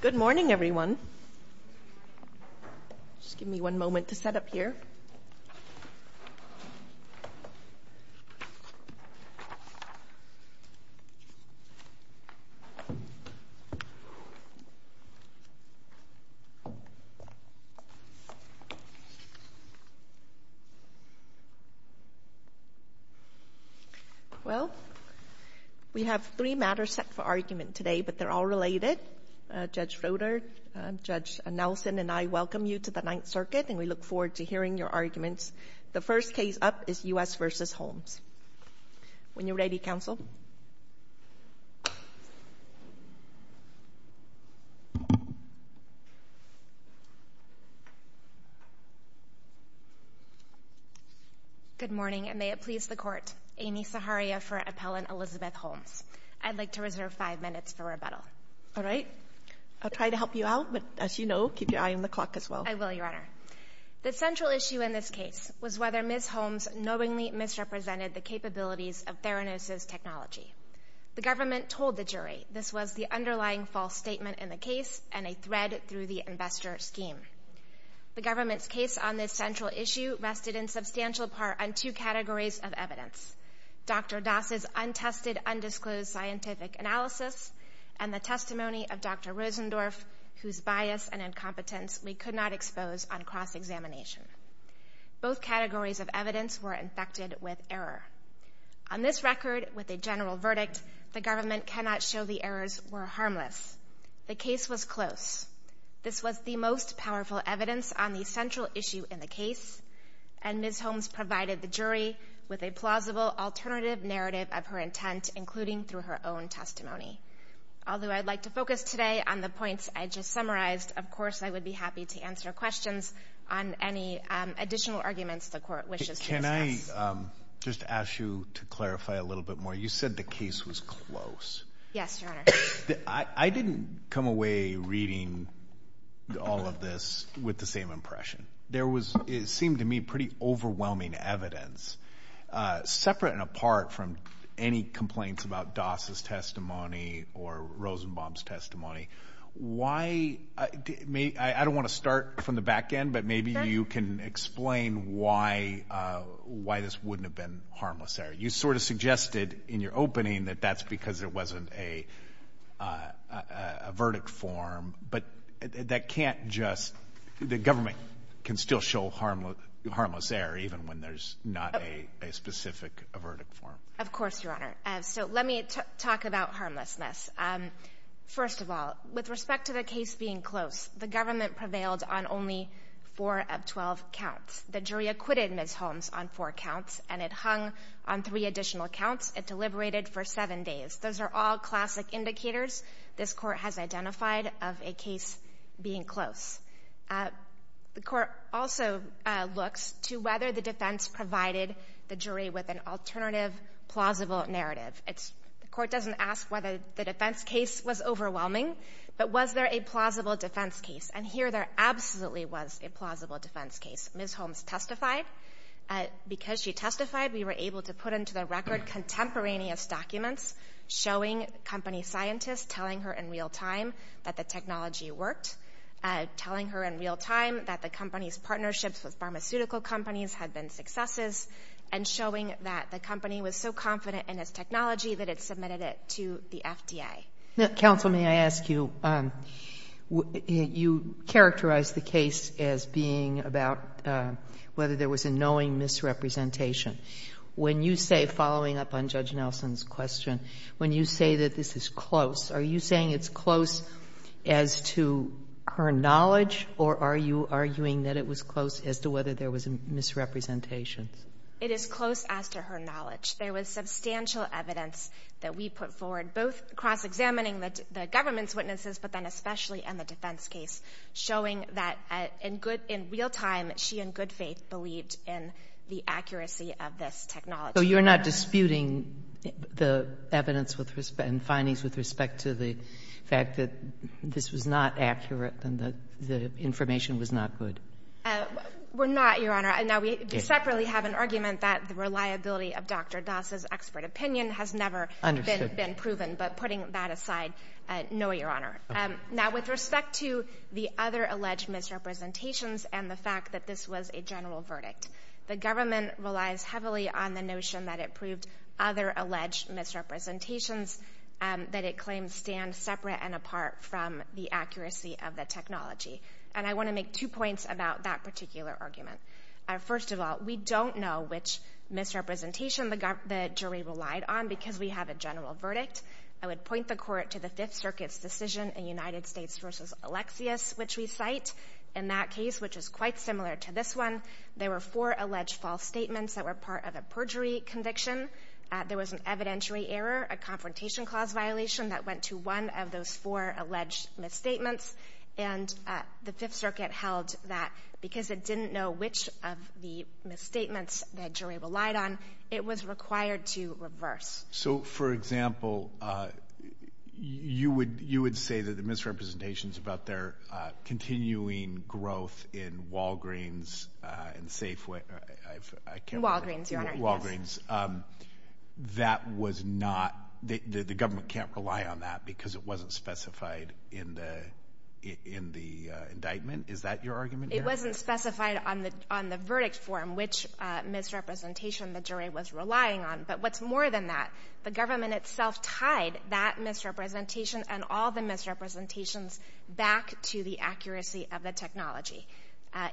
Good morning, everyone. Just give me one moment to set up here. Well, we have three matters set for argument today, but they're all related. Judge Fodor, Judge Nelson, and I welcome you to the Ninth Circuit, and we look forward to hearing your arguments. The first case up is U.S. v. Holmes. When you're ready, counsel. Good morning, and may it please the Court. Amy Saharia for Appellant Elizabeth Holmes. I'd like to reserve five minutes for rebuttal. All right. I'll try to help you out, but as you know, keep your eye on the clock as well. I will, Your Honor. The central issue in this case was whether Ms. Holmes knowingly misrepresented the capabilities of Theranos' technology. The government told the jury this was the underlying false statement in the case and a thread through the investor scheme. The government's case on this central issue rested in substantial part on two categories of evidence, Dr. Das' untested, undisclosed scientific analysis and the testimony of Dr. Rosendorf, whose bias and incompetence we could not expose on cross-examination. Both categories of evidence were infected with error. On this record, with a general verdict, the government cannot show the errors were harmless. The case was close. This was the most powerful evidence on the central issue in the case, and Ms. Holmes provided the jury with a plausible alternative narrative of her intent, including through her own testimony. Although I'd like to focus today on the points I just summarized, of course I would be happy to answer questions on any additional arguments the Court wishes to discuss. Can I just ask you to clarify a little bit more? You said the case was close. Yes, Your Honor. I didn't come away reading all of this with the same impression. There was, it seemed to me, pretty overwhelming evidence. Separate and apart from any complaints about Das' testimony or Rosenbaum's testimony, I don't want to start from the back end, but maybe you can explain why this wouldn't have been harmless there. You sort of suggested in your opening that that's because it wasn't a verdict form, but that can't just — the government can still show harmless error even when there's not a specific verdict form. Of course, Your Honor. So let me talk about harmlessness. First of all, with respect to the case being close, the government prevailed on only four of 12 counts. The jury acquitted Ms. Holmes on four counts, and it hung on three additional counts. It deliberated for seven days. Those are all classic indicators. This Court has identified of a case being close. The Court also looks to whether the defense provided the jury with an alternative, plausible narrative. The Court doesn't ask whether the defense case was overwhelming, but was there a plausible defense case? And here there absolutely was a plausible defense case. Ms. Holmes testified. Because she testified, we were able to put into the record contemporaneous documents showing company scientists telling her in real time that the technology worked, telling her in real time that the company's partnerships with pharmaceutical companies had been successes, and showing that the company was so confident in its technology that it submitted it to the FDA. Counsel, may I ask you, you characterized the case as being about whether there was a knowing misrepresentation. When you say, following up on Judge Nelson's question, when you say that this is close, are you saying it's close as to her knowledge, or are you arguing that it was close as to whether there was a misrepresentation? It is close as to her knowledge. There was substantial evidence that we put forward, both cross-examining the government's witnesses, but then especially in the defense case, showing that in real time, she in good faith believed in the accuracy of this technology. So you're not disputing the evidence and findings with respect to the fact that this was not accurate and the information was not good? We're not, Your Honor. Now, we separately have an argument that the reliability of Dr. Das' expert opinion has never been proven, but putting that aside, no, Your Honor. Now, with respect to the other alleged misrepresentations and the fact that this was a general verdict, the government relies heavily on the notion that it proved other alleged misrepresentations, that it claims stand separate and apart from the accuracy of the technology. And I want to make two points about that particular argument. First of all, we don't know which misrepresentation the jury relied on because we have a general verdict. I would point the Court to the Fifth Circuit's decision in United States v. Alexius, which we cite, in that case, which is quite similar to this one. There were four alleged false statements that were part of a perjury conviction. There was an evidentiary error, a confrontation clause violation, that went to one of those four alleged misstatements. And the Fifth Circuit held that because it didn't know which of the misstatements that jury relied on, it was required to reverse. So, for example, you would say that the misrepresentations about their continuing growth in Walgreens and Safeway. Walgreens, Your Honor. Walgreens. That was not, the government can't rely on that because it wasn't specified in the indictment. Is that your argument, Your Honor? It wasn't specified on the verdict form which misrepresentation the jury was relying on. But what's more than that, the government itself tied that misrepresentation and all the misrepresentations back to the accuracy of the technology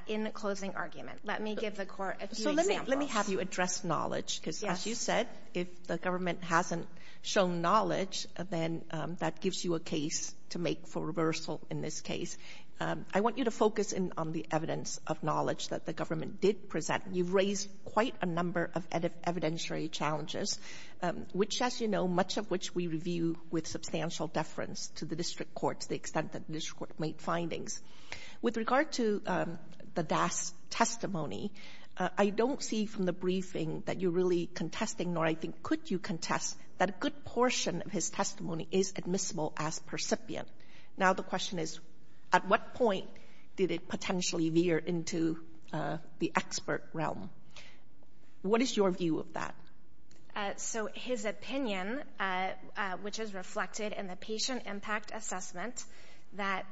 in the closing argument. Let me give the Court a few examples. Let me have you address knowledge. Yes. Because as you said, if the government hasn't shown knowledge, then that gives you a case to make for reversal in this case. I want you to focus on the evidence of knowledge that the government did present. You've raised quite a number of evidentiary challenges, which, as you know, much of which we review with substantial deference to the district courts, the extent that the district court made findings. With regard to the DAS testimony, I don't see from the briefing that you're really contesting, nor I think could you contest that a good portion of his testimony is admissible as percipient. Now the question is, at what point did it potentially veer into the expert realm? What is your view of that? So his opinion, which is reflected in the patient impact assessment, that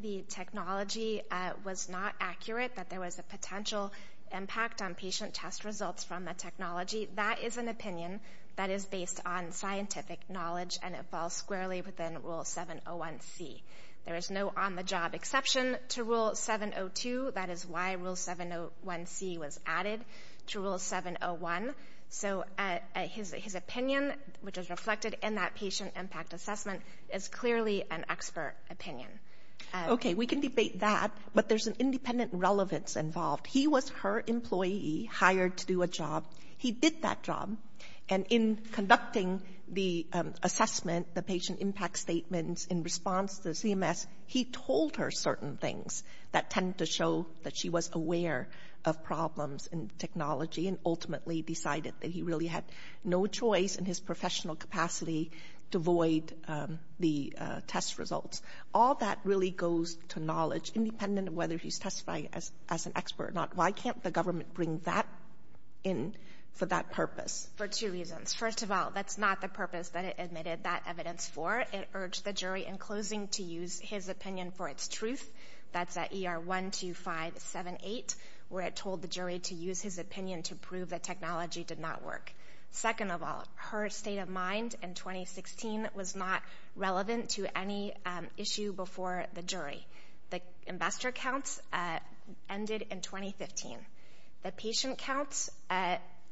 the technology was not accurate, that there was a potential impact on patient test results from the technology, that is an opinion that is based on scientific knowledge, and it falls squarely within Rule 701C. There is no on-the-job exception to Rule 702. That is why Rule 701C was added to Rule 701. So his opinion, which is reflected in that patient impact assessment, is clearly an expert opinion. Okay. We can debate that, but there's an independent relevance involved. He was her employee, hired to do a job. He did that job, and in conducting the assessment, the patient impact statements in response to CMS, he told her certain things that tended to show that she was aware of problems in technology and ultimately decided that he really had no choice in his professional capacity to void the test results. All that really goes to knowledge, independent of whether he's testifying as an expert or not. Why can't the government bring that in for that purpose? For two reasons. First of all, that's not the purpose that it admitted that evidence for. It urged the jury in closing to use his opinion for its truth. That's at ER 12578, where it told the jury to use his opinion to prove that technology did not work. Second of all, her state of mind in 2016 was not relevant to any issue before the jury. The investor counts ended in 2015. The patient counts,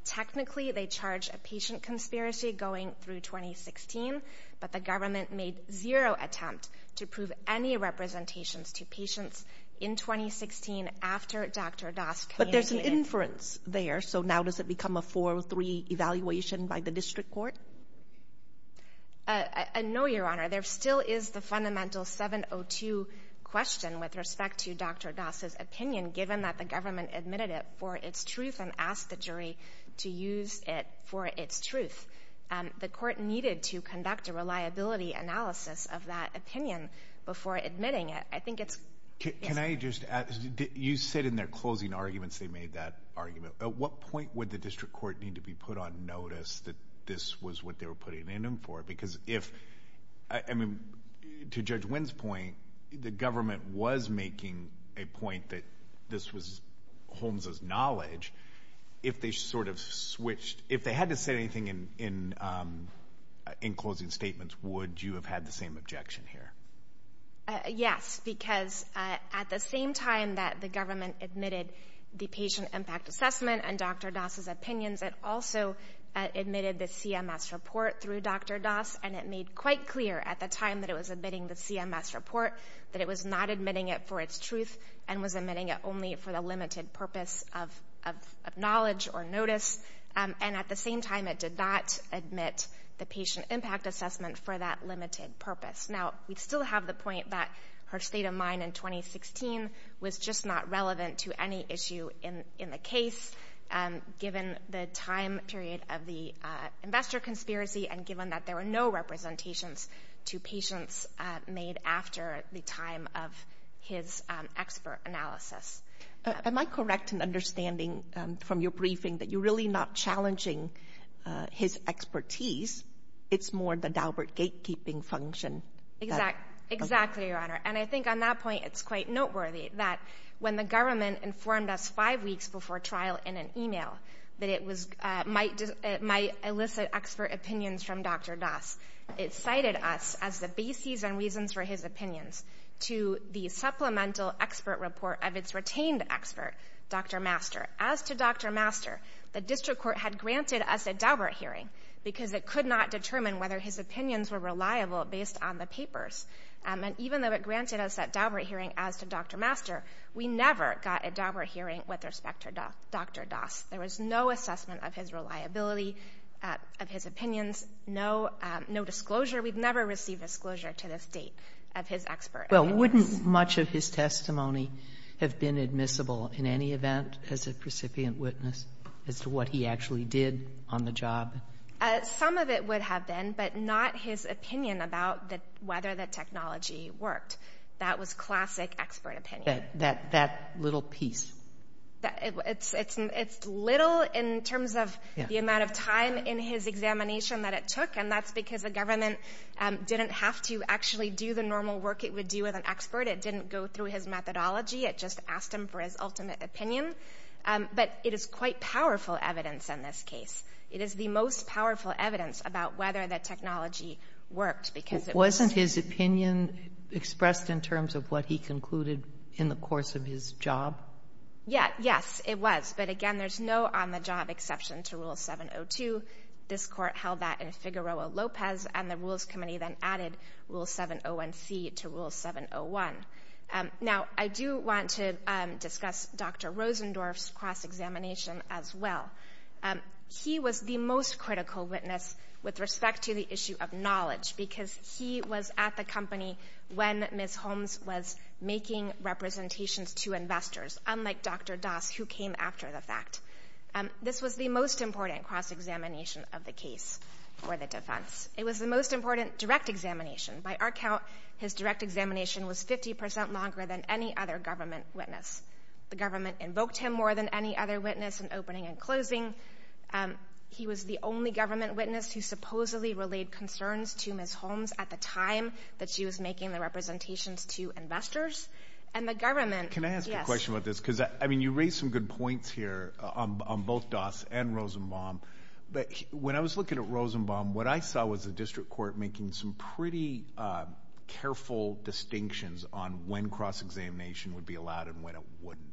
technically they charge a patient conspiracy going through 2016, but the government made zero attempt to prove any representations to patients in 2016 after Dr. Das communicated. But there's an inference there, so now does it become a 4-3 evaluation by the district court? No, Your Honor. There still is the fundamental 7-0-2 question with respect to Dr. Das's opinion, given that the government admitted it for its truth and asked the jury to use it for its truth. The court needed to conduct a reliability analysis of that opinion before admitting it. I think it's— Can I just add? You said in their closing arguments they made that argument. At what point would the district court need to be put on notice that this was what they were putting in them for? Because if—I mean, to Judge Wynn's point, the government was making a point that this was Holmes' knowledge. If they sort of switched—if they had to say anything in closing statements, would you have had the same objection here? Yes, because at the same time that the government admitted the patient impact assessment and Dr. Das's opinions, it also admitted the CMS report through Dr. Das, and it made quite clear at the time that it was admitting the CMS report that it was not admitting it for its truth and was admitting it only for the limited purpose of knowledge or notice. And at the same time, it did not admit the patient impact assessment for that limited purpose. Now, we still have the point that her state of mind in 2016 was just not relevant to any issue in the case, given the time period of the investor conspiracy and given that there were no representations to patients made after the time of his expert analysis. Am I correct in understanding from your briefing that you're really not challenging his expertise? It's more the Daubert gatekeeping function. Exactly, Your Honor. And I think on that point, it's quite noteworthy that when the government informed us five weeks before trial in an email that it might elicit expert opinions from Dr. Das, it cited us as the bases and reasons for his opinions to the supplemental expert report of its retained expert, Dr. Master. As to Dr. Master, the district court had granted us a Daubert hearing because it could not determine whether his opinions were reliable based on the papers. And even though it granted us that Daubert hearing as to Dr. Master, we never got a Daubert hearing with respect to Dr. Das. There was no assessment of his reliability, of his opinions, no disclosure. We've never received disclosure to this date of his expert. Well, wouldn't much of his testimony have been admissible in any event as a precipient witness as to what he actually did on the job? Some of it would have been, but not his opinion about whether the technology worked. That was classic expert opinion. That little piece. It's little in terms of the amount of time in his examination that it took, and that's because the government didn't have to actually do the normal work it would do with an expert. It didn't go through his methodology. It just asked him for his ultimate opinion. But it is quite powerful evidence in this case. It is the most powerful evidence about whether the technology worked because it was. Wasn't his opinion expressed in terms of what he concluded in the course of his job? Yes, it was. But, again, there's no on-the-job exception to Rule 702. This Court held that in Figueroa-Lopez, and the Rules Committee then added Rule 701C to Rule 701. Now, I do want to discuss Dr. Rosendorf's cross-examination as well. He was the most critical witness with respect to the issue of knowledge because he was at the company when Ms. Holmes was making representations to investors, unlike Dr. Das, who came after the fact. This was the most important cross-examination of the case for the defense. It was the most important direct examination. By our count, his direct examination was 50 percent longer than any other government witness. The government invoked him more than any other witness in opening and closing. He was the only government witness who supposedly relayed concerns to Ms. Holmes at the time that she was making the representations to investors. And the government, yes. Can I ask you a question about this? Because, I mean, you raised some good points here on both Das and Rosenbaum. But when I was looking at Rosenbaum, what I saw was the district court making some pretty careful distinctions on when cross-examination would be allowed and when it wouldn't.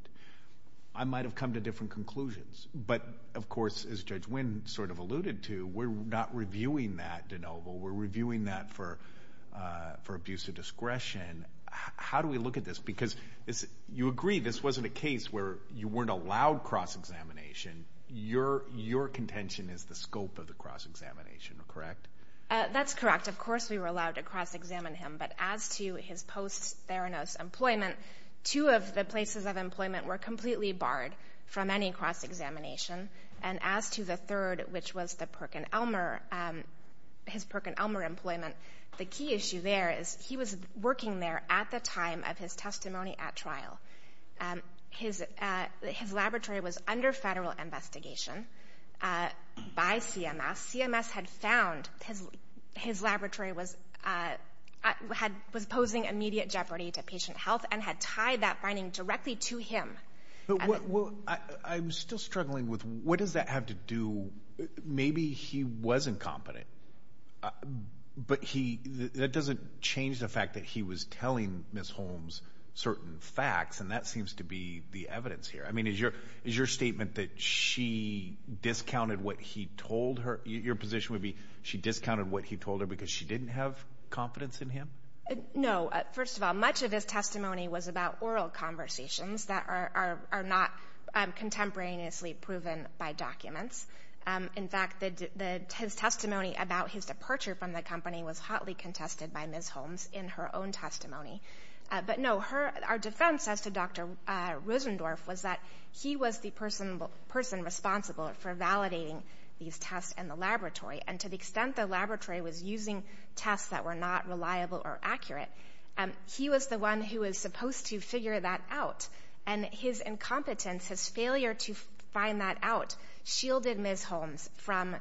I might have come to different conclusions. But, of course, as Judge Wynn sort of alluded to, we're not reviewing that de novo. We're reviewing that for abuse of discretion. How do we look at this? Because you agree this wasn't a case where you weren't allowed cross-examination. Your contention is the scope of the cross-examination, correct? That's correct. Of course we were allowed to cross-examine him. But as to his post-Theranos employment, two of the places of employment were completely barred from any cross-examination. And as to the third, which was his Perkin-Elmer employment, the key issue there is he was working there at the time of his testimony at trial. His laboratory was under federal investigation by CMS. CMS had found his laboratory was posing immediate jeopardy to patient health and had tied that finding directly to him. I'm still struggling with what does that have to do? Maybe he was incompetent, but that doesn't change the fact that he was telling Ms. Holmes certain facts, and that seems to be the evidence here. I mean, is your statement that she discounted what he told her? Your position would be she discounted what he told her because she didn't have confidence in him? No. First of all, much of his testimony was about oral conversations that are not contemporaneously proven by documents. In fact, his testimony about his departure from the company was hotly contested by Ms. Holmes in her own testimony. But, no, our defense as to Dr. Rosendorf was that he was the person responsible for validating these tests in the laboratory, and to the extent the laboratory was using tests that were not reliable or accurate, he was the one who was supposed to figure that out, and his incompetence, his failure to find that out, shielded Ms. Holmes from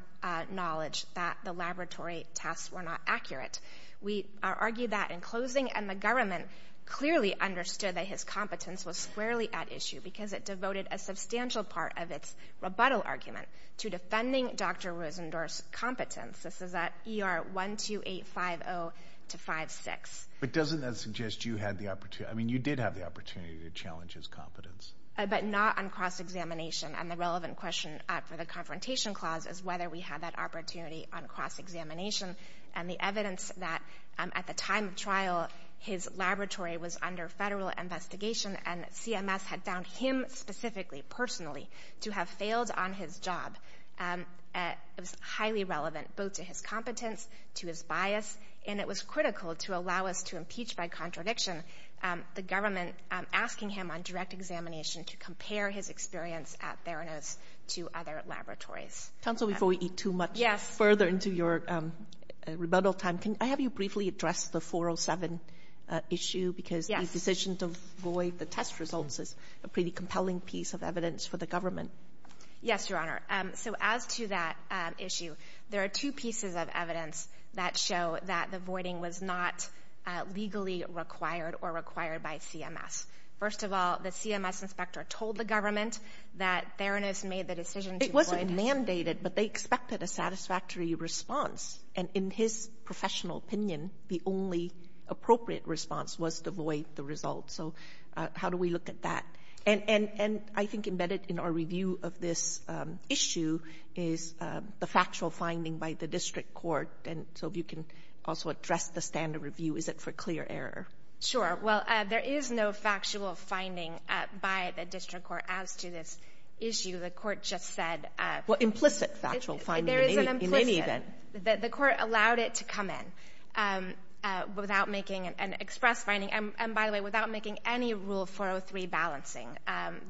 knowledge that the laboratory tests were not accurate. We argue that in closing, and the government clearly understood that his competence was squarely at issue because it devoted a substantial part of its rebuttal argument to defending Dr. Rosendorf's competence. This is at ER 12850-56. But doesn't that suggest you had the opportunity, I mean, you did have the opportunity to challenge his competence? But not on cross-examination, and the relevant question for the confrontation clause is whether we had that opportunity on cross-examination, and the evidence that at the time of trial, his laboratory was under federal investigation and CMS had found him specifically, personally, to have failed on his job. It was highly relevant, both to his competence, to his bias, and it was critical to allow us to impeach by contradiction the government asking him on direct examination to compare his experience at Theranos to other laboratories. Counsel, before we eat too much further into your rebuttal time, can I have you briefly address the 407 issue? Yes. Because the decision to void the test results is a pretty compelling piece of evidence for the government. Yes, Your Honor. So as to that issue, there are two pieces of evidence that show that the voiding was not legally required or required by CMS. First of all, the CMS inspector told the government that Theranos made the decision to void the test. It wasn't mandated, but they expected a satisfactory response. And in his professional opinion, the only appropriate response was to void the results. So how do we look at that? And I think embedded in our review of this issue is the factual finding by the district court. And so if you can also address the standard review, is it for clear error? Sure. Well, there is no factual finding by the district court as to this issue. The court just said... Well, implicit factual finding in any event. There is an implicit. The court allowed it to come in without making an express finding and, by the way, without making any Rule 403 balancing.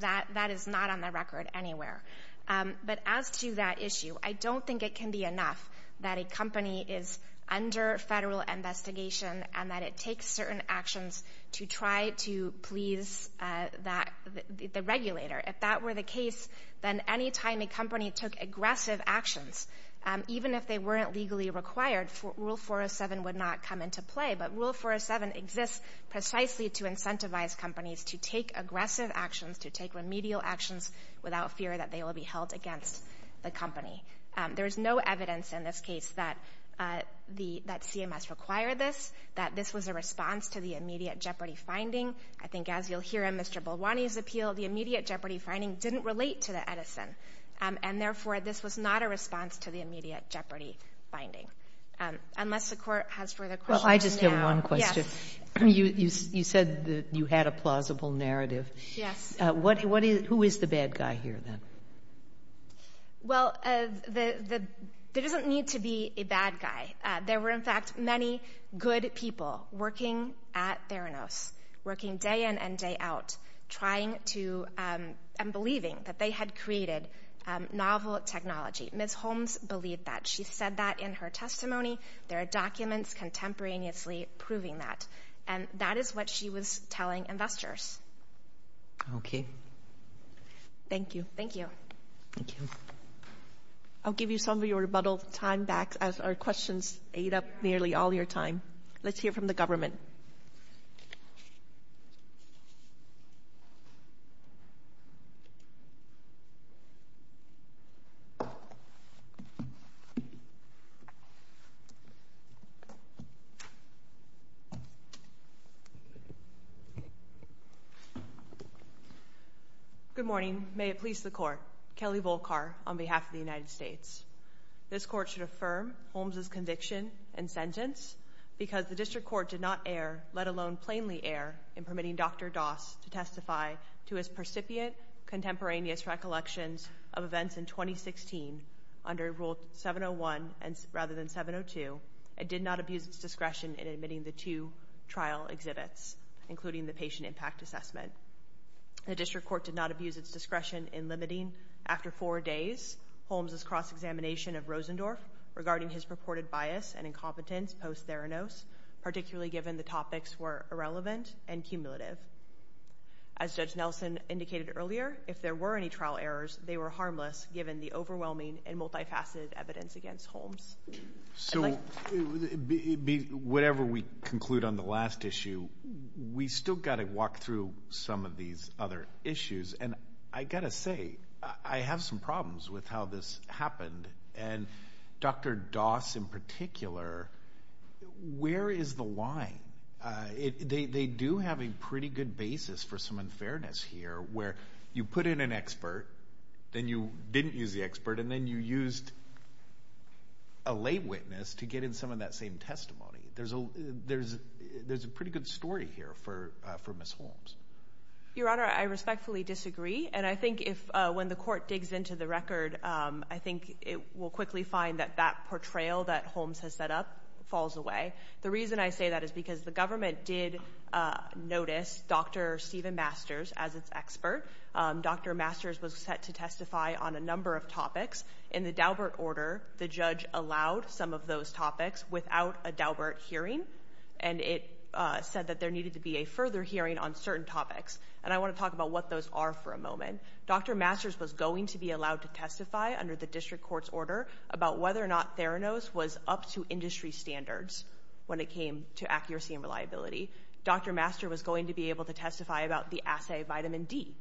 That is not on the record anywhere. But as to that issue, I don't think it can be enough that a company is under federal investigation and that it takes certain actions to try to please the regulator. If that were the case, then any time a company took aggressive actions, even if they weren't legally required, Rule 407 would not come into play. But Rule 407 exists precisely to incentivize companies to take aggressive actions, to take remedial actions, without fear that they will be held against the company. There is no evidence in this case that CMS required this, that this was a response to the immediate jeopardy finding. I think as you'll hear in Mr. Bolwani's appeal, the immediate jeopardy finding didn't relate to the Edison, and therefore this was not a response to the immediate jeopardy finding. Unless the court has further questions. Well, I just have one question. Yes. You said that you had a plausible narrative. Yes. Who is the bad guy here, then? Well, there doesn't need to be a bad guy. There were, in fact, many good people working at Theranos, working day in and day out, trying to and believing that they had created novel technology. Ms. Holmes believed that. She said that in her testimony. There are documents contemporaneously proving that, and that is what she was telling investors. Okay. Thank you. Thank you. Thank you. I'll give you some of your rebuttal time back as our questions ate up nearly all your time. Let's hear from the government. Good morning. May it please the court. Kelly Volkar on behalf of the United States. This court should affirm Holmes' conviction and sentence because the district court did not err, let alone plainly err, in permitting Dr. Doss to testify to his percipient contemporaneous recollections of events in 2016 under Rule 701 rather than 702 and did not abuse its discretion in admitting the two trial exhibits, including the patient impact assessment. The district court did not abuse its discretion in limiting, after four days, Holmes' cross-examination of Rosendorf regarding his purported bias and incompetence post-Theranos, particularly given the topics were irrelevant and cumulative. As Judge Nelson indicated earlier, if there were any trial errors, they were harmless given the overwhelming and multifaceted evidence against Holmes. So whatever we conclude on the last issue, we've still got to walk through some of these other issues. And I've got to say, I have some problems with how this happened, and Dr. Doss in particular, where is the line? They do have a pretty good basis for some unfairness here where you put in an expert, then you didn't use the expert, and then you used a lay witness to get in some of that same testimony. There's a pretty good story here for Ms. Holmes. Your Honor, I respectfully disagree, and I think when the court digs into the record, I think it will quickly find that that portrayal that Holmes has set up falls away. The reason I say that is because the government did notice Dr. Stephen Masters as its expert. Dr. Masters was set to testify on a number of topics. In the Daubert order, the judge allowed some of those topics without a Daubert hearing, and it said that there needed to be a further hearing on certain topics. And I want to talk about what those are for a moment. Dr. Masters was going to be allowed to testify under the district court's order about whether or not Theranos was up to industry standards when it came to accuracy and reliability. Dr. Masters was going to be able to testify about the assay vitamin D.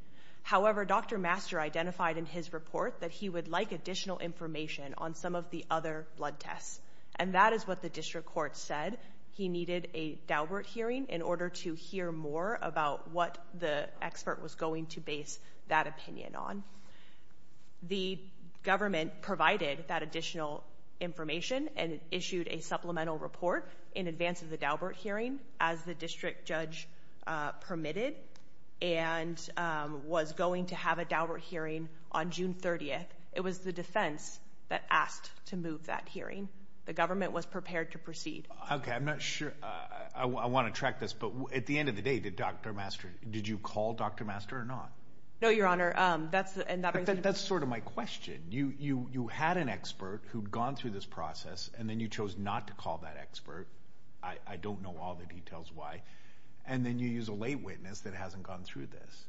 However, Dr. Masters identified in his report that he would like additional information on some of the other blood tests, and that is what the district court said. He needed a Daubert hearing in order to hear more about what the expert was going to base that opinion on. The government provided that additional information and issued a supplemental report in advance of the Daubert hearing as the district judge permitted and was going to have a Daubert hearing on June 30th. It was the defense that asked to move that hearing. The government was prepared to proceed. Okay. I'm not sure. I want to track this. But at the end of the day, did you call Dr. Masters or not? No, Your Honor. That's sort of my question. You had an expert who'd gone through this process, and then you chose not to call that expert. I don't know all the details why. And then you use a late witness that hasn't gone through this.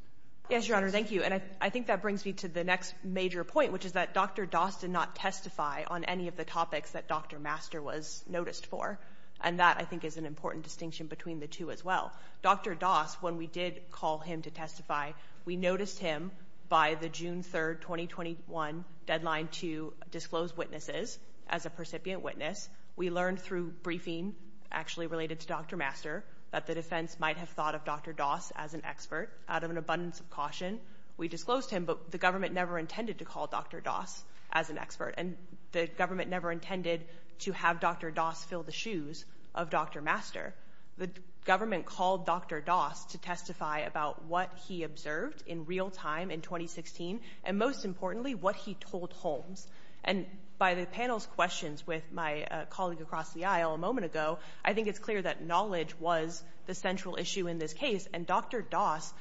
Yes, Your Honor. Thank you. And I think that brings me to the next major point, which is that Dr. Doss did not testify on any of the topics that Dr. Master was noticed for, and that I think is an important distinction between the two as well. Dr. Doss, when we did call him to testify, we noticed him by the June 3rd, 2021, deadline to disclose witnesses as a percipient witness. We learned through briefing actually related to Dr. Master that the defense might have thought of Dr. Doss as an expert. Out of an abundance of caution, we disclosed him, but the government never intended to call Dr. Doss as an expert, and the government never intended to have Dr. Doss fill the shoes of Dr. Master. The government called Dr. Doss to testify about what he observed in real time in 2016, and most importantly, what he told Holmes. And by the panel's questions with my colleague across the aisle a moment ago, I think it's clear that knowledge was the central issue in this case, and Dr. Doss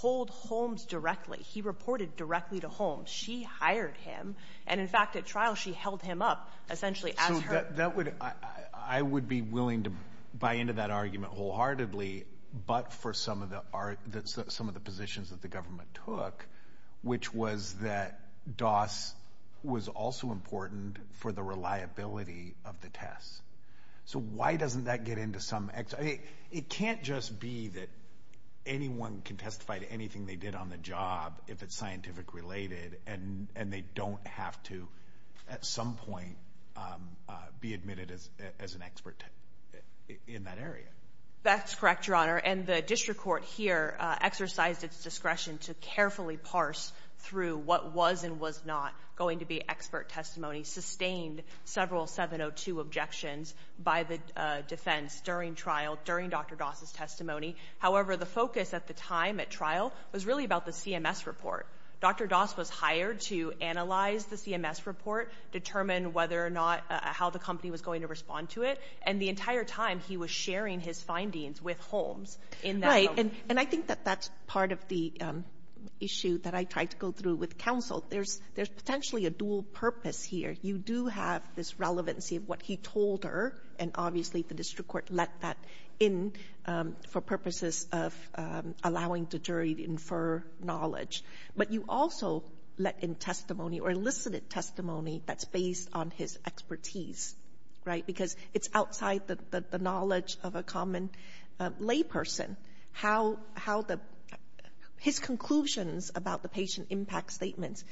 told Holmes directly. He reported directly to Holmes. She hired him, and in fact, at trial, she held him up essentially as her— So that would—I would be willing to buy into that argument wholeheartedly, but for some of the positions that the government took, which was that Doss was also important for the reliability of the tests. So why doesn't that get into some— I mean, it can't just be that anyone can testify to anything they did on the job if it's scientific-related, and they don't have to at some point be admitted as an expert in that area. That's correct, Your Honor, and the district court here exercised its discretion to carefully parse through what was and was not going to be expert testimony, sustained several 702 objections by the defense during trial, during Dr. Doss's testimony. However, the focus at the time at trial was really about the CMS report. Dr. Doss was hired to analyze the CMS report, determine whether or not how the company was going to respond to it, and the entire time he was sharing his findings with Holmes in that— Right. And I think that that's part of the issue that I tried to go through with counsel. There's potentially a dual purpose here. You do have this relevancy of what he told her, and obviously the district court let that in for purposes of allowing the jury to infer knowledge. But you also let in testimony or elicited testimony that's based on his expertise, right? Because it's outside the knowledge of a common layperson, how the — his conclusions about the patient impact statements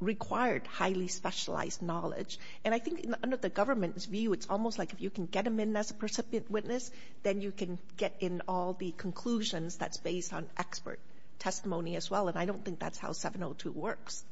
required highly specialized knowledge. And I think under the government's view, it's almost like if you can get them in as a percipient witness, then you can get in all the conclusions that's based on expert testimony as well. And I don't think that's how 702 works.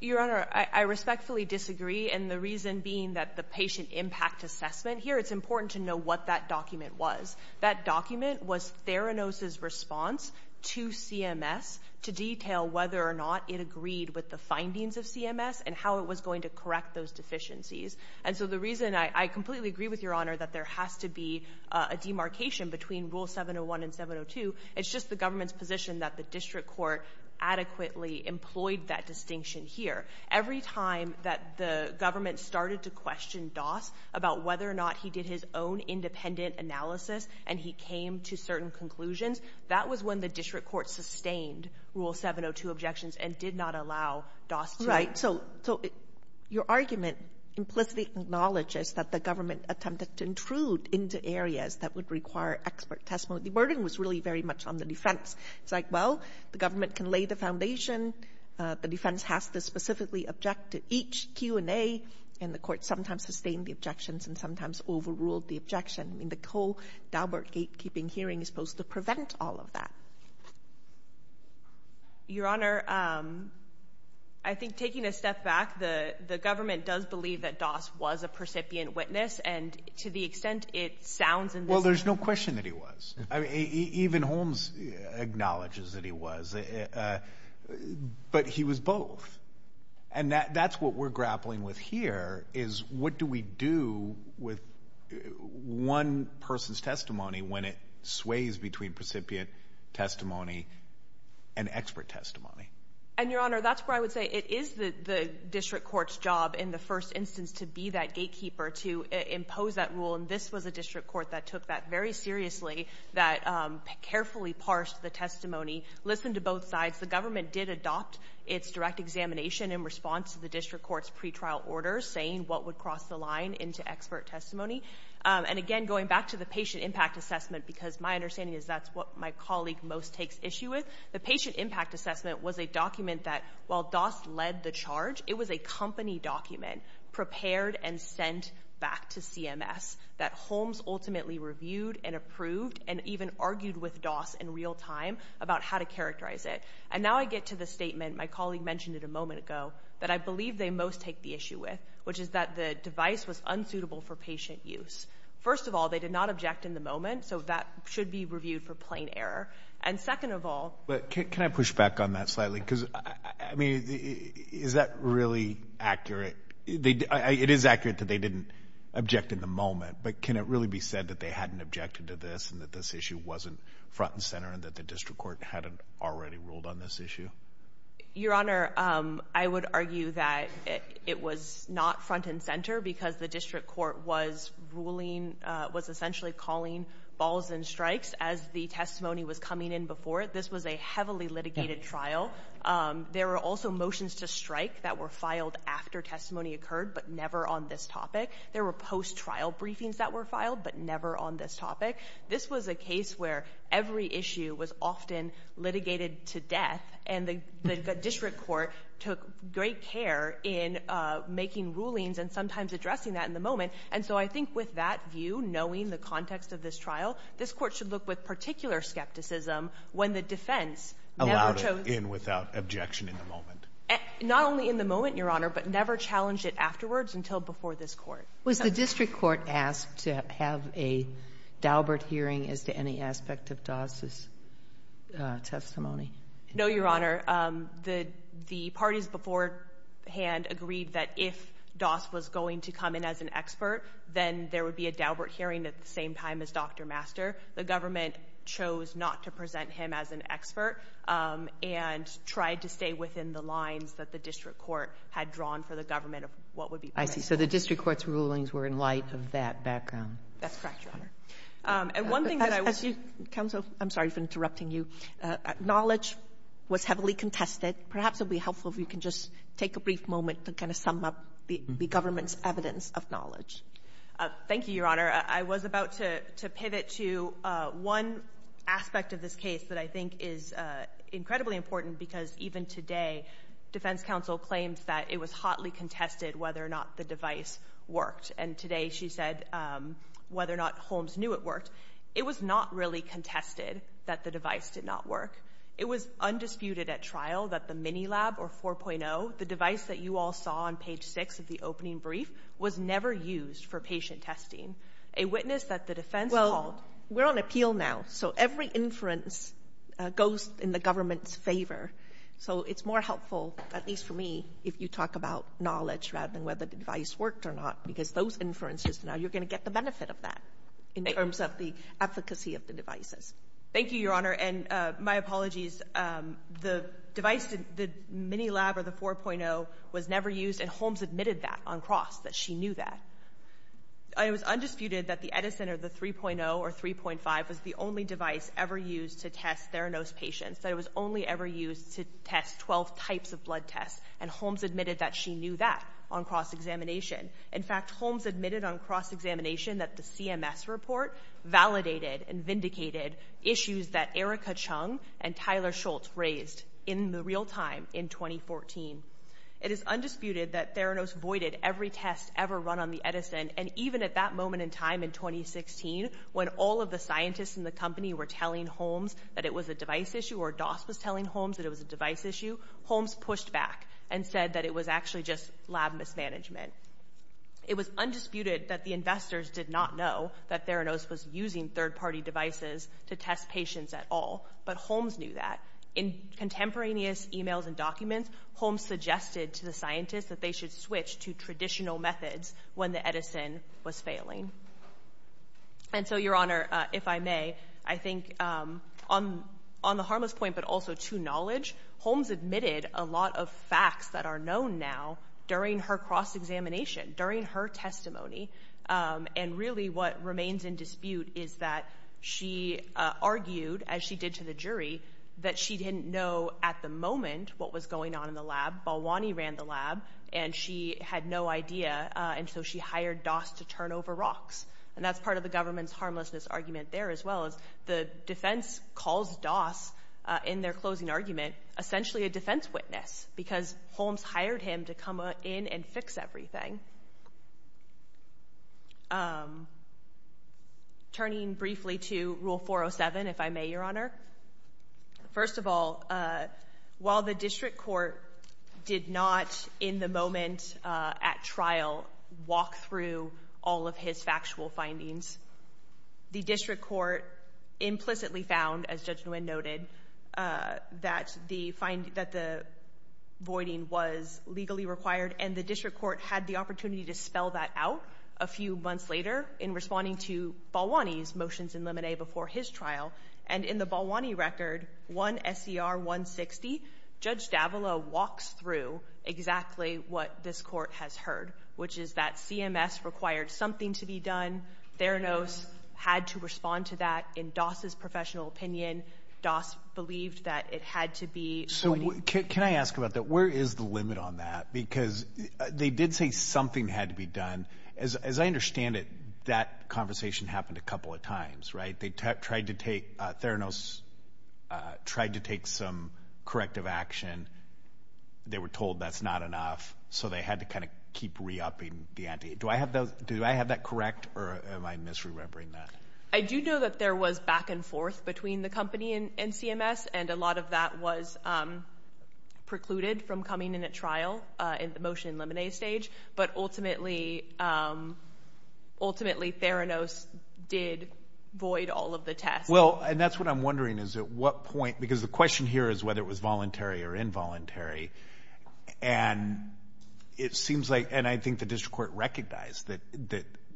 Your Honor, I respectfully disagree. And the reason being that the patient impact assessment here, it's important to know what that document was. That document was Theranos' response to CMS to detail whether or not it agreed with the findings of CMS and how it was going to correct those deficiencies. And so the reason I completely agree with Your Honor that there has to be a demarcation between Rule 701 and 702, it's just the government's position that the district court adequately employed that distinction here. Every time that the government started to question Doss about whether or not he did his own independent analysis and he came to certain conclusions, that was when the district court sustained Rule 702 objections and did not allow Doss to — Right. So your argument implicitly acknowledges that the government attempted to intrude into areas that would require expert testimony. The burden was really very much on the defense. It's like, well, the government can lay the foundation. The defense has to specifically object to each Q&A. And the court sometimes sustained the objections and sometimes overruled the objection. I mean, the whole Daubert gatekeeping hearing is supposed to prevent all of that. Your Honor, I think taking a step back, the government does believe that Doss was a percipient witness, and to the extent it sounds in this — Well, there's no question that he was. I mean, even Holmes acknowledges that he was. But he was both. And that's what we're grappling with here, is what do we do with one person's testimony when it sways between precipient testimony and expert testimony? And, Your Honor, that's where I would say it is the district court's job in the first instance to be that gatekeeper, to impose that rule, and this was a district court that took that very seriously, that carefully parsed the testimony, listened to both sides. The government did adopt its direct examination in response to the district court's pretrial orders, saying what would cross the line into expert testimony. And, again, going back to the patient impact assessment, because my understanding is that's what my colleague most takes issue with, the patient impact assessment was a document that, while Doss led the charge, it was a company document prepared and sent back to CMS that Holmes ultimately reviewed and approved and even argued with Doss in real time about how to characterize it. And now I get to the statement, my colleague mentioned it a moment ago, that I believe they most take the issue with, which is that the device was unsuitable for patient use. First of all, they did not object in the moment, so that should be reviewed for plain error. And second of all — But can I push back on that slightly? Because, I mean, is that really accurate? It is accurate that they didn't object in the moment, but can it really be said that they hadn't objected to this and that this issue wasn't front and center and that the district court hadn't already ruled on this issue? Your Honor, I would argue that it was not front and center because the district court was ruling — was essentially calling balls and strikes as the testimony was coming in before it. This was a heavily litigated trial. There were also motions to strike that were filed after testimony occurred, but never on this topic. There were post-trial briefings that were filed, but never on this topic. This was a case where every issue was often litigated to death, and the district court took great care in making rulings and sometimes addressing that in the moment. And so I think with that view, knowing the context of this trial, this Court should look with particular skepticism when the defense never chose — Allowed it in without objection in the moment. Not only in the moment, Your Honor, but never challenged it afterwards until before this Court. Was the district court asked to have a Daubert hearing as to any aspect of Doss' testimony? No, Your Honor. The parties beforehand agreed that if Doss was going to come in as an expert, then there would be a Daubert hearing at the same time as Dr. Master. The government chose not to present him as an expert and tried to stay within the I see. So the district court's rulings were in light of that background. That's correct, Your Honor. And one thing that I was — Counsel, I'm sorry for interrupting you. Knowledge was heavily contested. Perhaps it would be helpful if you can just take a brief moment to kind of sum up the government's evidence of knowledge. Thank you, Your Honor. I was about to pivot to one aspect of this case that I think is incredibly important, because even today defense counsel claims that it was hotly contested whether or not the device worked. And today she said whether or not Holmes knew it worked. It was not really contested that the device did not work. It was undisputed at trial that the Minilab or 4.0, the device that you all saw on page 6 of the opening brief, was never used for patient testing. A witness that the defense called — Well, we're on appeal now, so every inference goes in the government's favor. So it's more helpful, at least for me, if you talk about knowledge rather than whether the device worked or not, because those inferences, now you're going to get the benefit of that in terms of the efficacy of the devices. Thank you, Your Honor. And my apologies. The device, the Minilab or the 4.0, was never used. And Holmes admitted that on cross, that she knew that. It was undisputed that the Edison or the 3.0 or 3.5 was the only device ever used to test Theranos patients, that it was only ever used to test 12 types of blood tests. And Holmes admitted that she knew that on cross-examination. In fact, Holmes admitted on cross-examination that the CMS report validated and vindicated issues that Erica Chung and Tyler Schultz raised in the real time in 2014. It is undisputed that Theranos voided every test ever run on the Edison. And even at that moment in time in 2016, when all of the scientists in the company were telling Holmes that it was a device issue or Doss was telling Holmes that it was a device issue, Holmes pushed back and said that it was actually just lab mismanagement. It was undisputed that the investors did not know that Theranos was using third-party devices to test patients at all, but Holmes knew that. In contemporaneous emails and documents, Holmes suggested to the scientists that they should switch to traditional methods when the Edison was failing. And so, Your Honor, if I may, I think on the harmless point but also to knowledge, Holmes admitted a lot of facts that are known now during her cross-examination, during her testimony, and really what remains in dispute is that she argued, as she did to the jury, that she didn't know at the moment what was going on in the lab. Balwani ran the lab, and she had no idea, and so she hired Doss to turn over rocks. And that's part of the government's harmlessness argument there as well. The defense calls Doss, in their closing argument, essentially a defense witness because Holmes hired him to come in and fix everything. Turning briefly to Rule 407, if I may, Your Honor, first of all, while the district court did not, in the moment at trial, walk through all of his factual findings, the district court implicitly found, as Judge Nguyen noted, that the voiding was legally required, and the district court had the opportunity to spell that out a few months later in responding to Balwani's motions in limine before his trial. And in the Balwani record, 1 S.E.R. 160, Judge Davila walks through exactly what this court has heard, which is that CMS required something to be done. Theranos had to respond to that. In Doss's professional opinion, Doss believed that it had to be voiding. So can I ask about that? Where is the limit on that? Because they did say something had to be done. As I understand it, that conversation happened a couple of times, right? They tried to take, Theranos tried to take some corrective action. They were told that's not enough, so they had to kind of keep re-upping the ante. Do I have that correct, or am I misremembering that? I do know that there was back and forth between the company and CMS, and a lot of that was precluded from coming in at trial in the motion in limine stage. But ultimately, Theranos did void all of the tests. Well, and that's what I'm wondering is at what point, because the question here is whether it was voluntary or involuntary. And it seems like, and I think the district court recognized that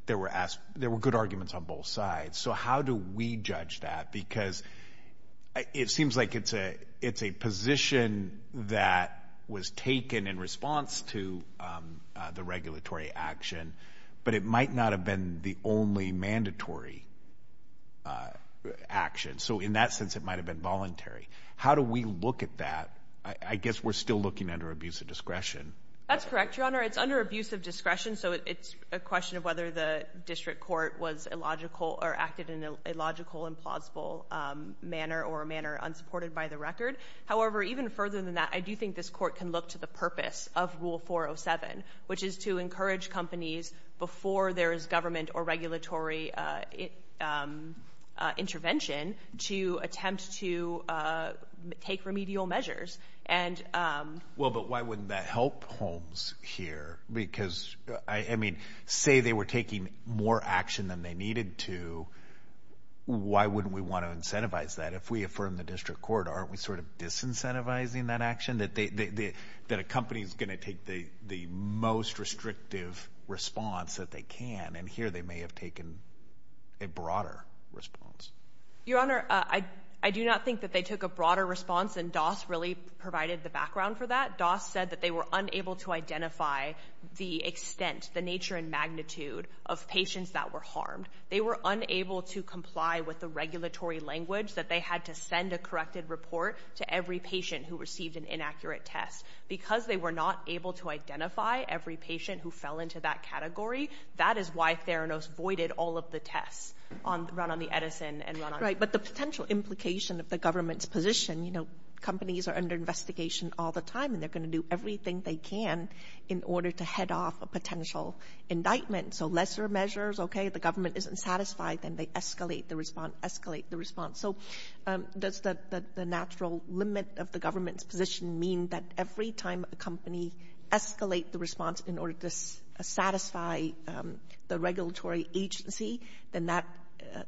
there were good arguments on both sides. So how do we judge that? Because it seems like it's a position that was taken in response to the regulatory action, but it might not have been the only mandatory action. So in that sense, it might have been voluntary. How do we look at that? I guess we're still looking under abuse of discretion. It's under abuse of discretion, so it's a question of whether the district court acted in a logical and plausible manner or a manner unsupported by the record. However, even further than that, I do think this court can look to the purpose of Rule 407, which is to encourage companies before there is government or regulatory intervention to attempt to take remedial measures. Well, but why wouldn't that help Holmes here? Because, I mean, say they were taking more action than they needed to, why wouldn't we want to incentivize that? If we affirm the district court, aren't we sort of disincentivizing that action, that a company is going to take the most restrictive response that they can? And here they may have taken a broader response. Your Honor, I do not think that they took a broader response, and Doss really provided the background for that. Doss said that they were unable to identify the extent, the nature and magnitude, of patients that were harmed. They were unable to comply with the regulatory language that they had to send a corrected report to every patient who received an inaccurate test. Because they were not able to identify every patient who fell into that category, that is why Theranos voided all of the tests, run on the Edison. Right, but the potential implication of the government's position, you know, companies are under investigation all the time, and they're going to do everything they can in order to head off a potential indictment. So lesser measures, okay, the government isn't satisfied, then they escalate the response, escalate the response. So does the natural limit of the government's position mean that every time a company escalate the response in order to satisfy the regulatory agency, then that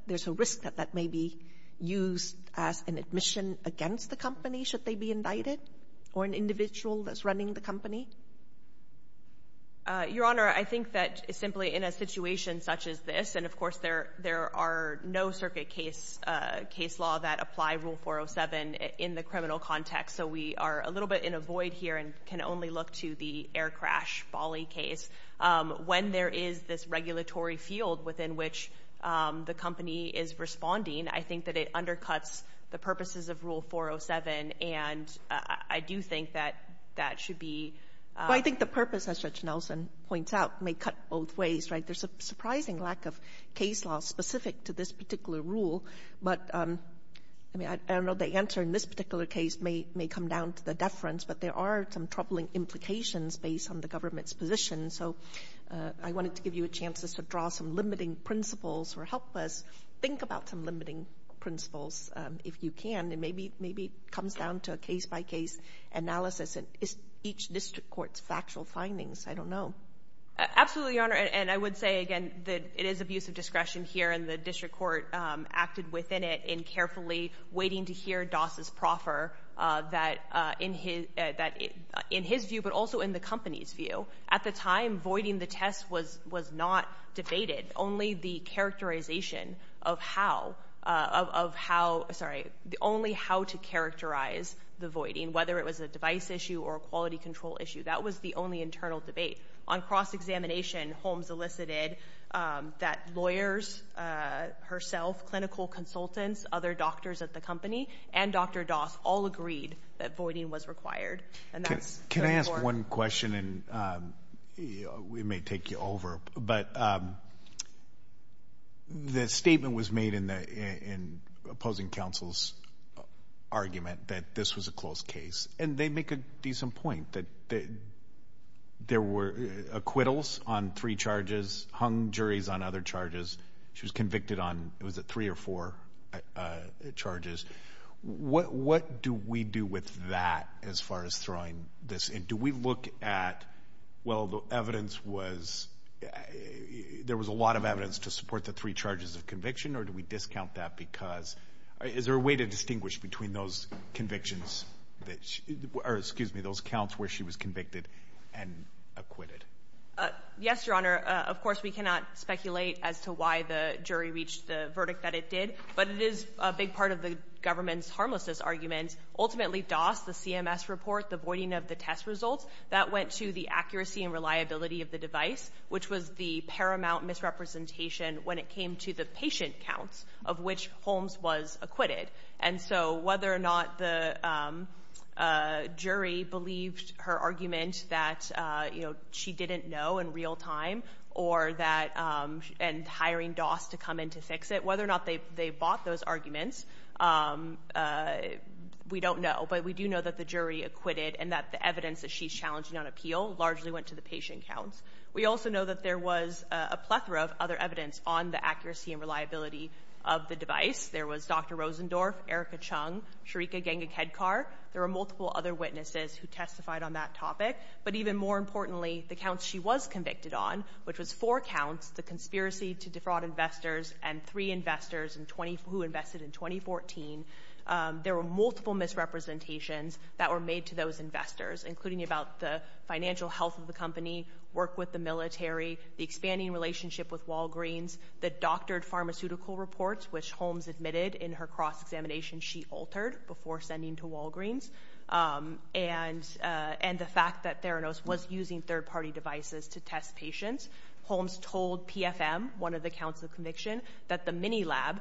there's a risk that that may be used as an admission against the company should they be indicted or an individual that's running the company? Your Honor, I think that simply in a situation such as this, and of course, there are no circuit case law that apply Rule 407 in the criminal context. So we are a little bit in a void here and can only look to the air crash Bali case. When there is this regulatory field within which the company is responding, I think that it undercuts the purposes of Rule 407, and I do think that that should be. Well, I think the purpose, as Judge Nelson points out, may cut both ways, right? There's a surprising lack of case law specific to this particular rule. But, I mean, I don't know the answer in this particular case may come down to the deference, but there are some troubling implications based on the government's position. So I wanted to give you a chance to draw some limiting principles or help us think about some limiting principles if you can. And maybe it comes down to a case-by-case analysis. And is each district court's factual findings? I don't know. Absolutely, Your Honor. And I would say, again, that it is abuse of discretion here, and the district court acted within it in carefully waiting to hear Doss's proffer that in his view, but also in the company's view, at the time voiding the test was not debated. Only the characterization of how, of how, sorry, only how to characterize the voiding, whether it was a device issue or a quality control issue, that was the only internal debate. On cross-examination, Holmes elicited that lawyers, herself, clinical consultants, other doctors at the company, and Dr. Doss all agreed that voiding was required. Can I ask one question, and we may take you over, but the statement was made in opposing counsel's argument that this was a closed case. And they make a decent point that there were acquittals on three charges, hung juries on other charges. She was convicted on, was it, three or four charges. What do we do with that as far as throwing this in? Do we look at, well, the evidence was, there was a lot of evidence to support the three charges of conviction, or do we discount that because, is there a way to distinguish between those convictions that, or excuse me, those counts where she was convicted and acquitted? Yes, Your Honor. Of course, we cannot speculate as to why the jury reached the verdict that it did, but it is a big part of the government's harmlessness argument. Ultimately, Doss, the CMS report, the voiding of the test results, that went to the accuracy and reliability of the device, which was the paramount misrepresentation when it came to the patient counts of which Holmes was acquitted. And so whether or not the jury believed her argument that, you know, she didn't know in real time, or that, and hiring Doss to come in to fix it, whether or not they bought those arguments, we don't know. But we do know that the jury acquitted and that the evidence that she's challenging on appeal largely went to the patient counts. We also know that there was a plethora of other evidence on the accuracy and reliability of the device. There was Dr. Rosendorf, Erica Chung, Sharika Ganga-Kedkar. There were multiple other witnesses who testified on that topic. But even more importantly, the counts she was convicted on, which was four counts, the conspiracy to defraud investors, and three investors who invested in 2014, there were multiple misrepresentations that were made to those investors, including about the financial health of the company, work with the military, the expanding relationship with Walgreens, the doctored pharmaceutical reports, which Holmes admitted in her cross-examination she altered before sending to Walgreens, and the fact that Theranos was using third-party devices to test patients. Holmes told PFM, one of the counts of conviction, that the Minilab,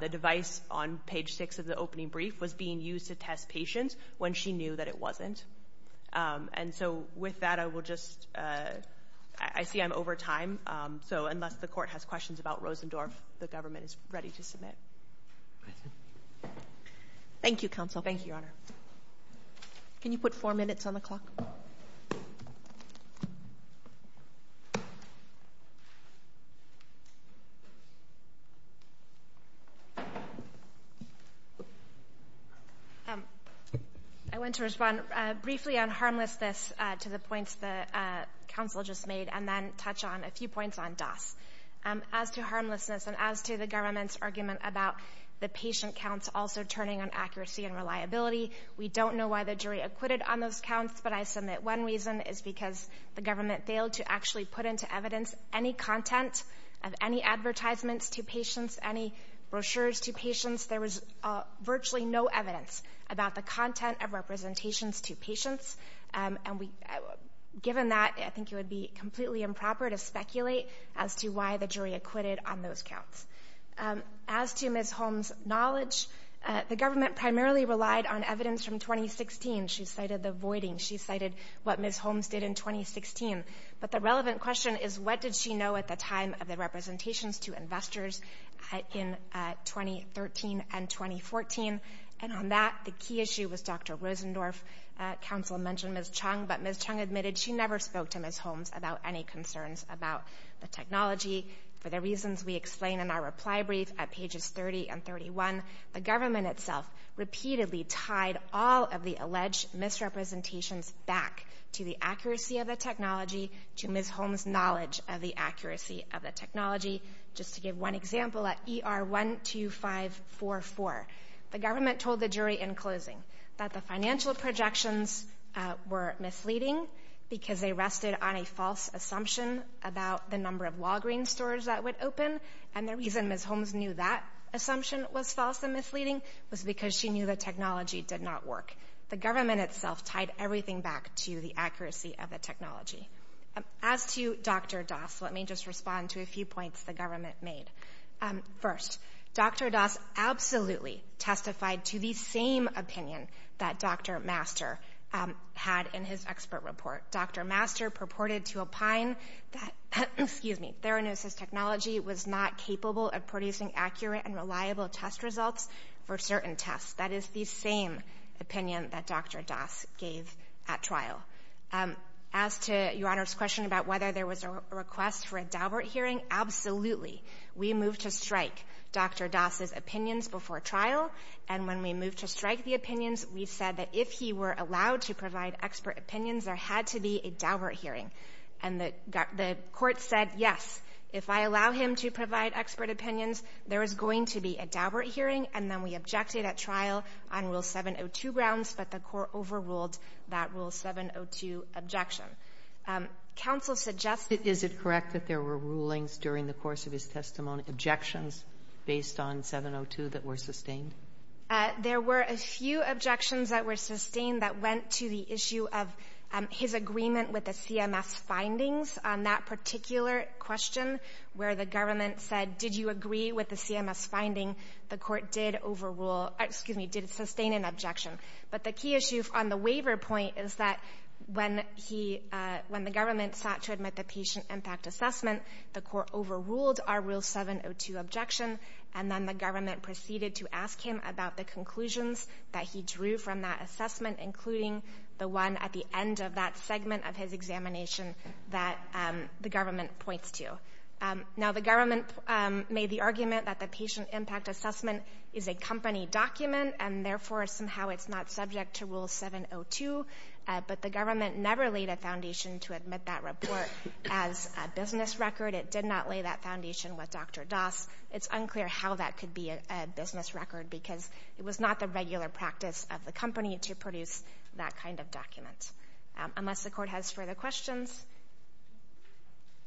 the device on page 6 of the opening brief, was being used to test patients when she knew that it wasn't. And so with that, I will just, I see I'm over time, so unless the court has questions about Rosendorf, the government is ready to submit. Thank you, Counsel. Thank you, Your Honor. Can you put four minutes on the clock? Thank you. I want to respond briefly on harmlessness to the points that Counsel just made and then touch on a few points on DOS. As to harmlessness and as to the government's argument about the patient counts also turning on accuracy and reliability, we don't know why the jury acquitted on those counts, but I submit one reason is because the government failed to actually put into evidence any content of any advertisements to patients, any brochures to patients. There was virtually no evidence about the content of representations to patients. Given that, I think it would be completely improper to speculate as to why the jury acquitted on those counts. As to Ms. Holmes' knowledge, the government primarily relied on evidence from 2016. She cited the voiding. She cited what Ms. Holmes did in 2016. But the relevant question is what did she know at the time of the representations to investors in 2013 and 2014? And on that, the key issue was Dr. Rosendorf. Counsel mentioned Ms. Chung, but Ms. Chung admitted she never spoke to Ms. Holmes about any concerns about the technology. For the reasons we explain in our reply brief at pages 30 and 31, the government itself repeatedly tied all of the alleged misrepresentations back to the accuracy of the technology to Ms. Holmes' knowledge of the accuracy of the technology. Just to give one example, at ER 12544, the government told the jury in closing that the financial projections were misleading because they rested on a false assumption about the number of Walgreens stores that would open, and the reason Ms. Holmes knew that assumption was false and misleading was because she knew the technology did not work. The government itself tied everything back to the accuracy of the technology. As to Dr. Doss, let me just respond to a few points the government made. First, Dr. Doss absolutely testified to the same opinion that Dr. Master had in his expert report. Dr. Master purported to opine that, excuse me, theranosis technology was not capable of producing accurate and reliable test results for certain tests. That is the same opinion that Dr. Doss gave at trial. As to Your Honor's question about whether there was a request for a Daubert hearing, absolutely. We moved to strike Dr. Doss' opinions before trial, and when we moved to strike the opinions, we said that if he were allowed to provide expert opinions, there had to be a Daubert hearing. And the court said, yes, if I allow him to provide expert opinions, there is going to be a Daubert hearing. And then we objected at trial on Rule 702 grounds, but the court overruled that Rule 702 objection. Counsel suggests that there were rulings during the course of his testimony, objections based on 702 that were sustained. There were a few objections that were sustained that went to the issue of his agreement with the CMS findings on that particular question, where the government said, did you agree with the CMS finding? The court did overrule, excuse me, did sustain an objection. But the key issue on the waiver point is that when he, when the government sought to admit the patient impact assessment, the court overruled our Rule 702 objection, and then the government proceeded to ask him about the conclusions that he drew from that assessment, including the one at the end of that segment of his examination that the government points to. Now, the government made the argument that the patient impact assessment is a company document, and therefore somehow it's not subject to Rule 702, but the government never laid a foundation to admit that report as a business record. It did not lay that foundation with Dr. Das. It's unclear how that could be a business record, because it was not the regular practice of the company to produce that kind of document. Unless the court has further questions,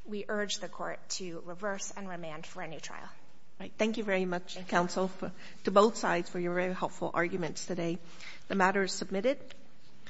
we urge the court to reverse and remand for a new trial. Thank you very much, counsel, to both sides for your very helpful arguments today. The matter is submitted.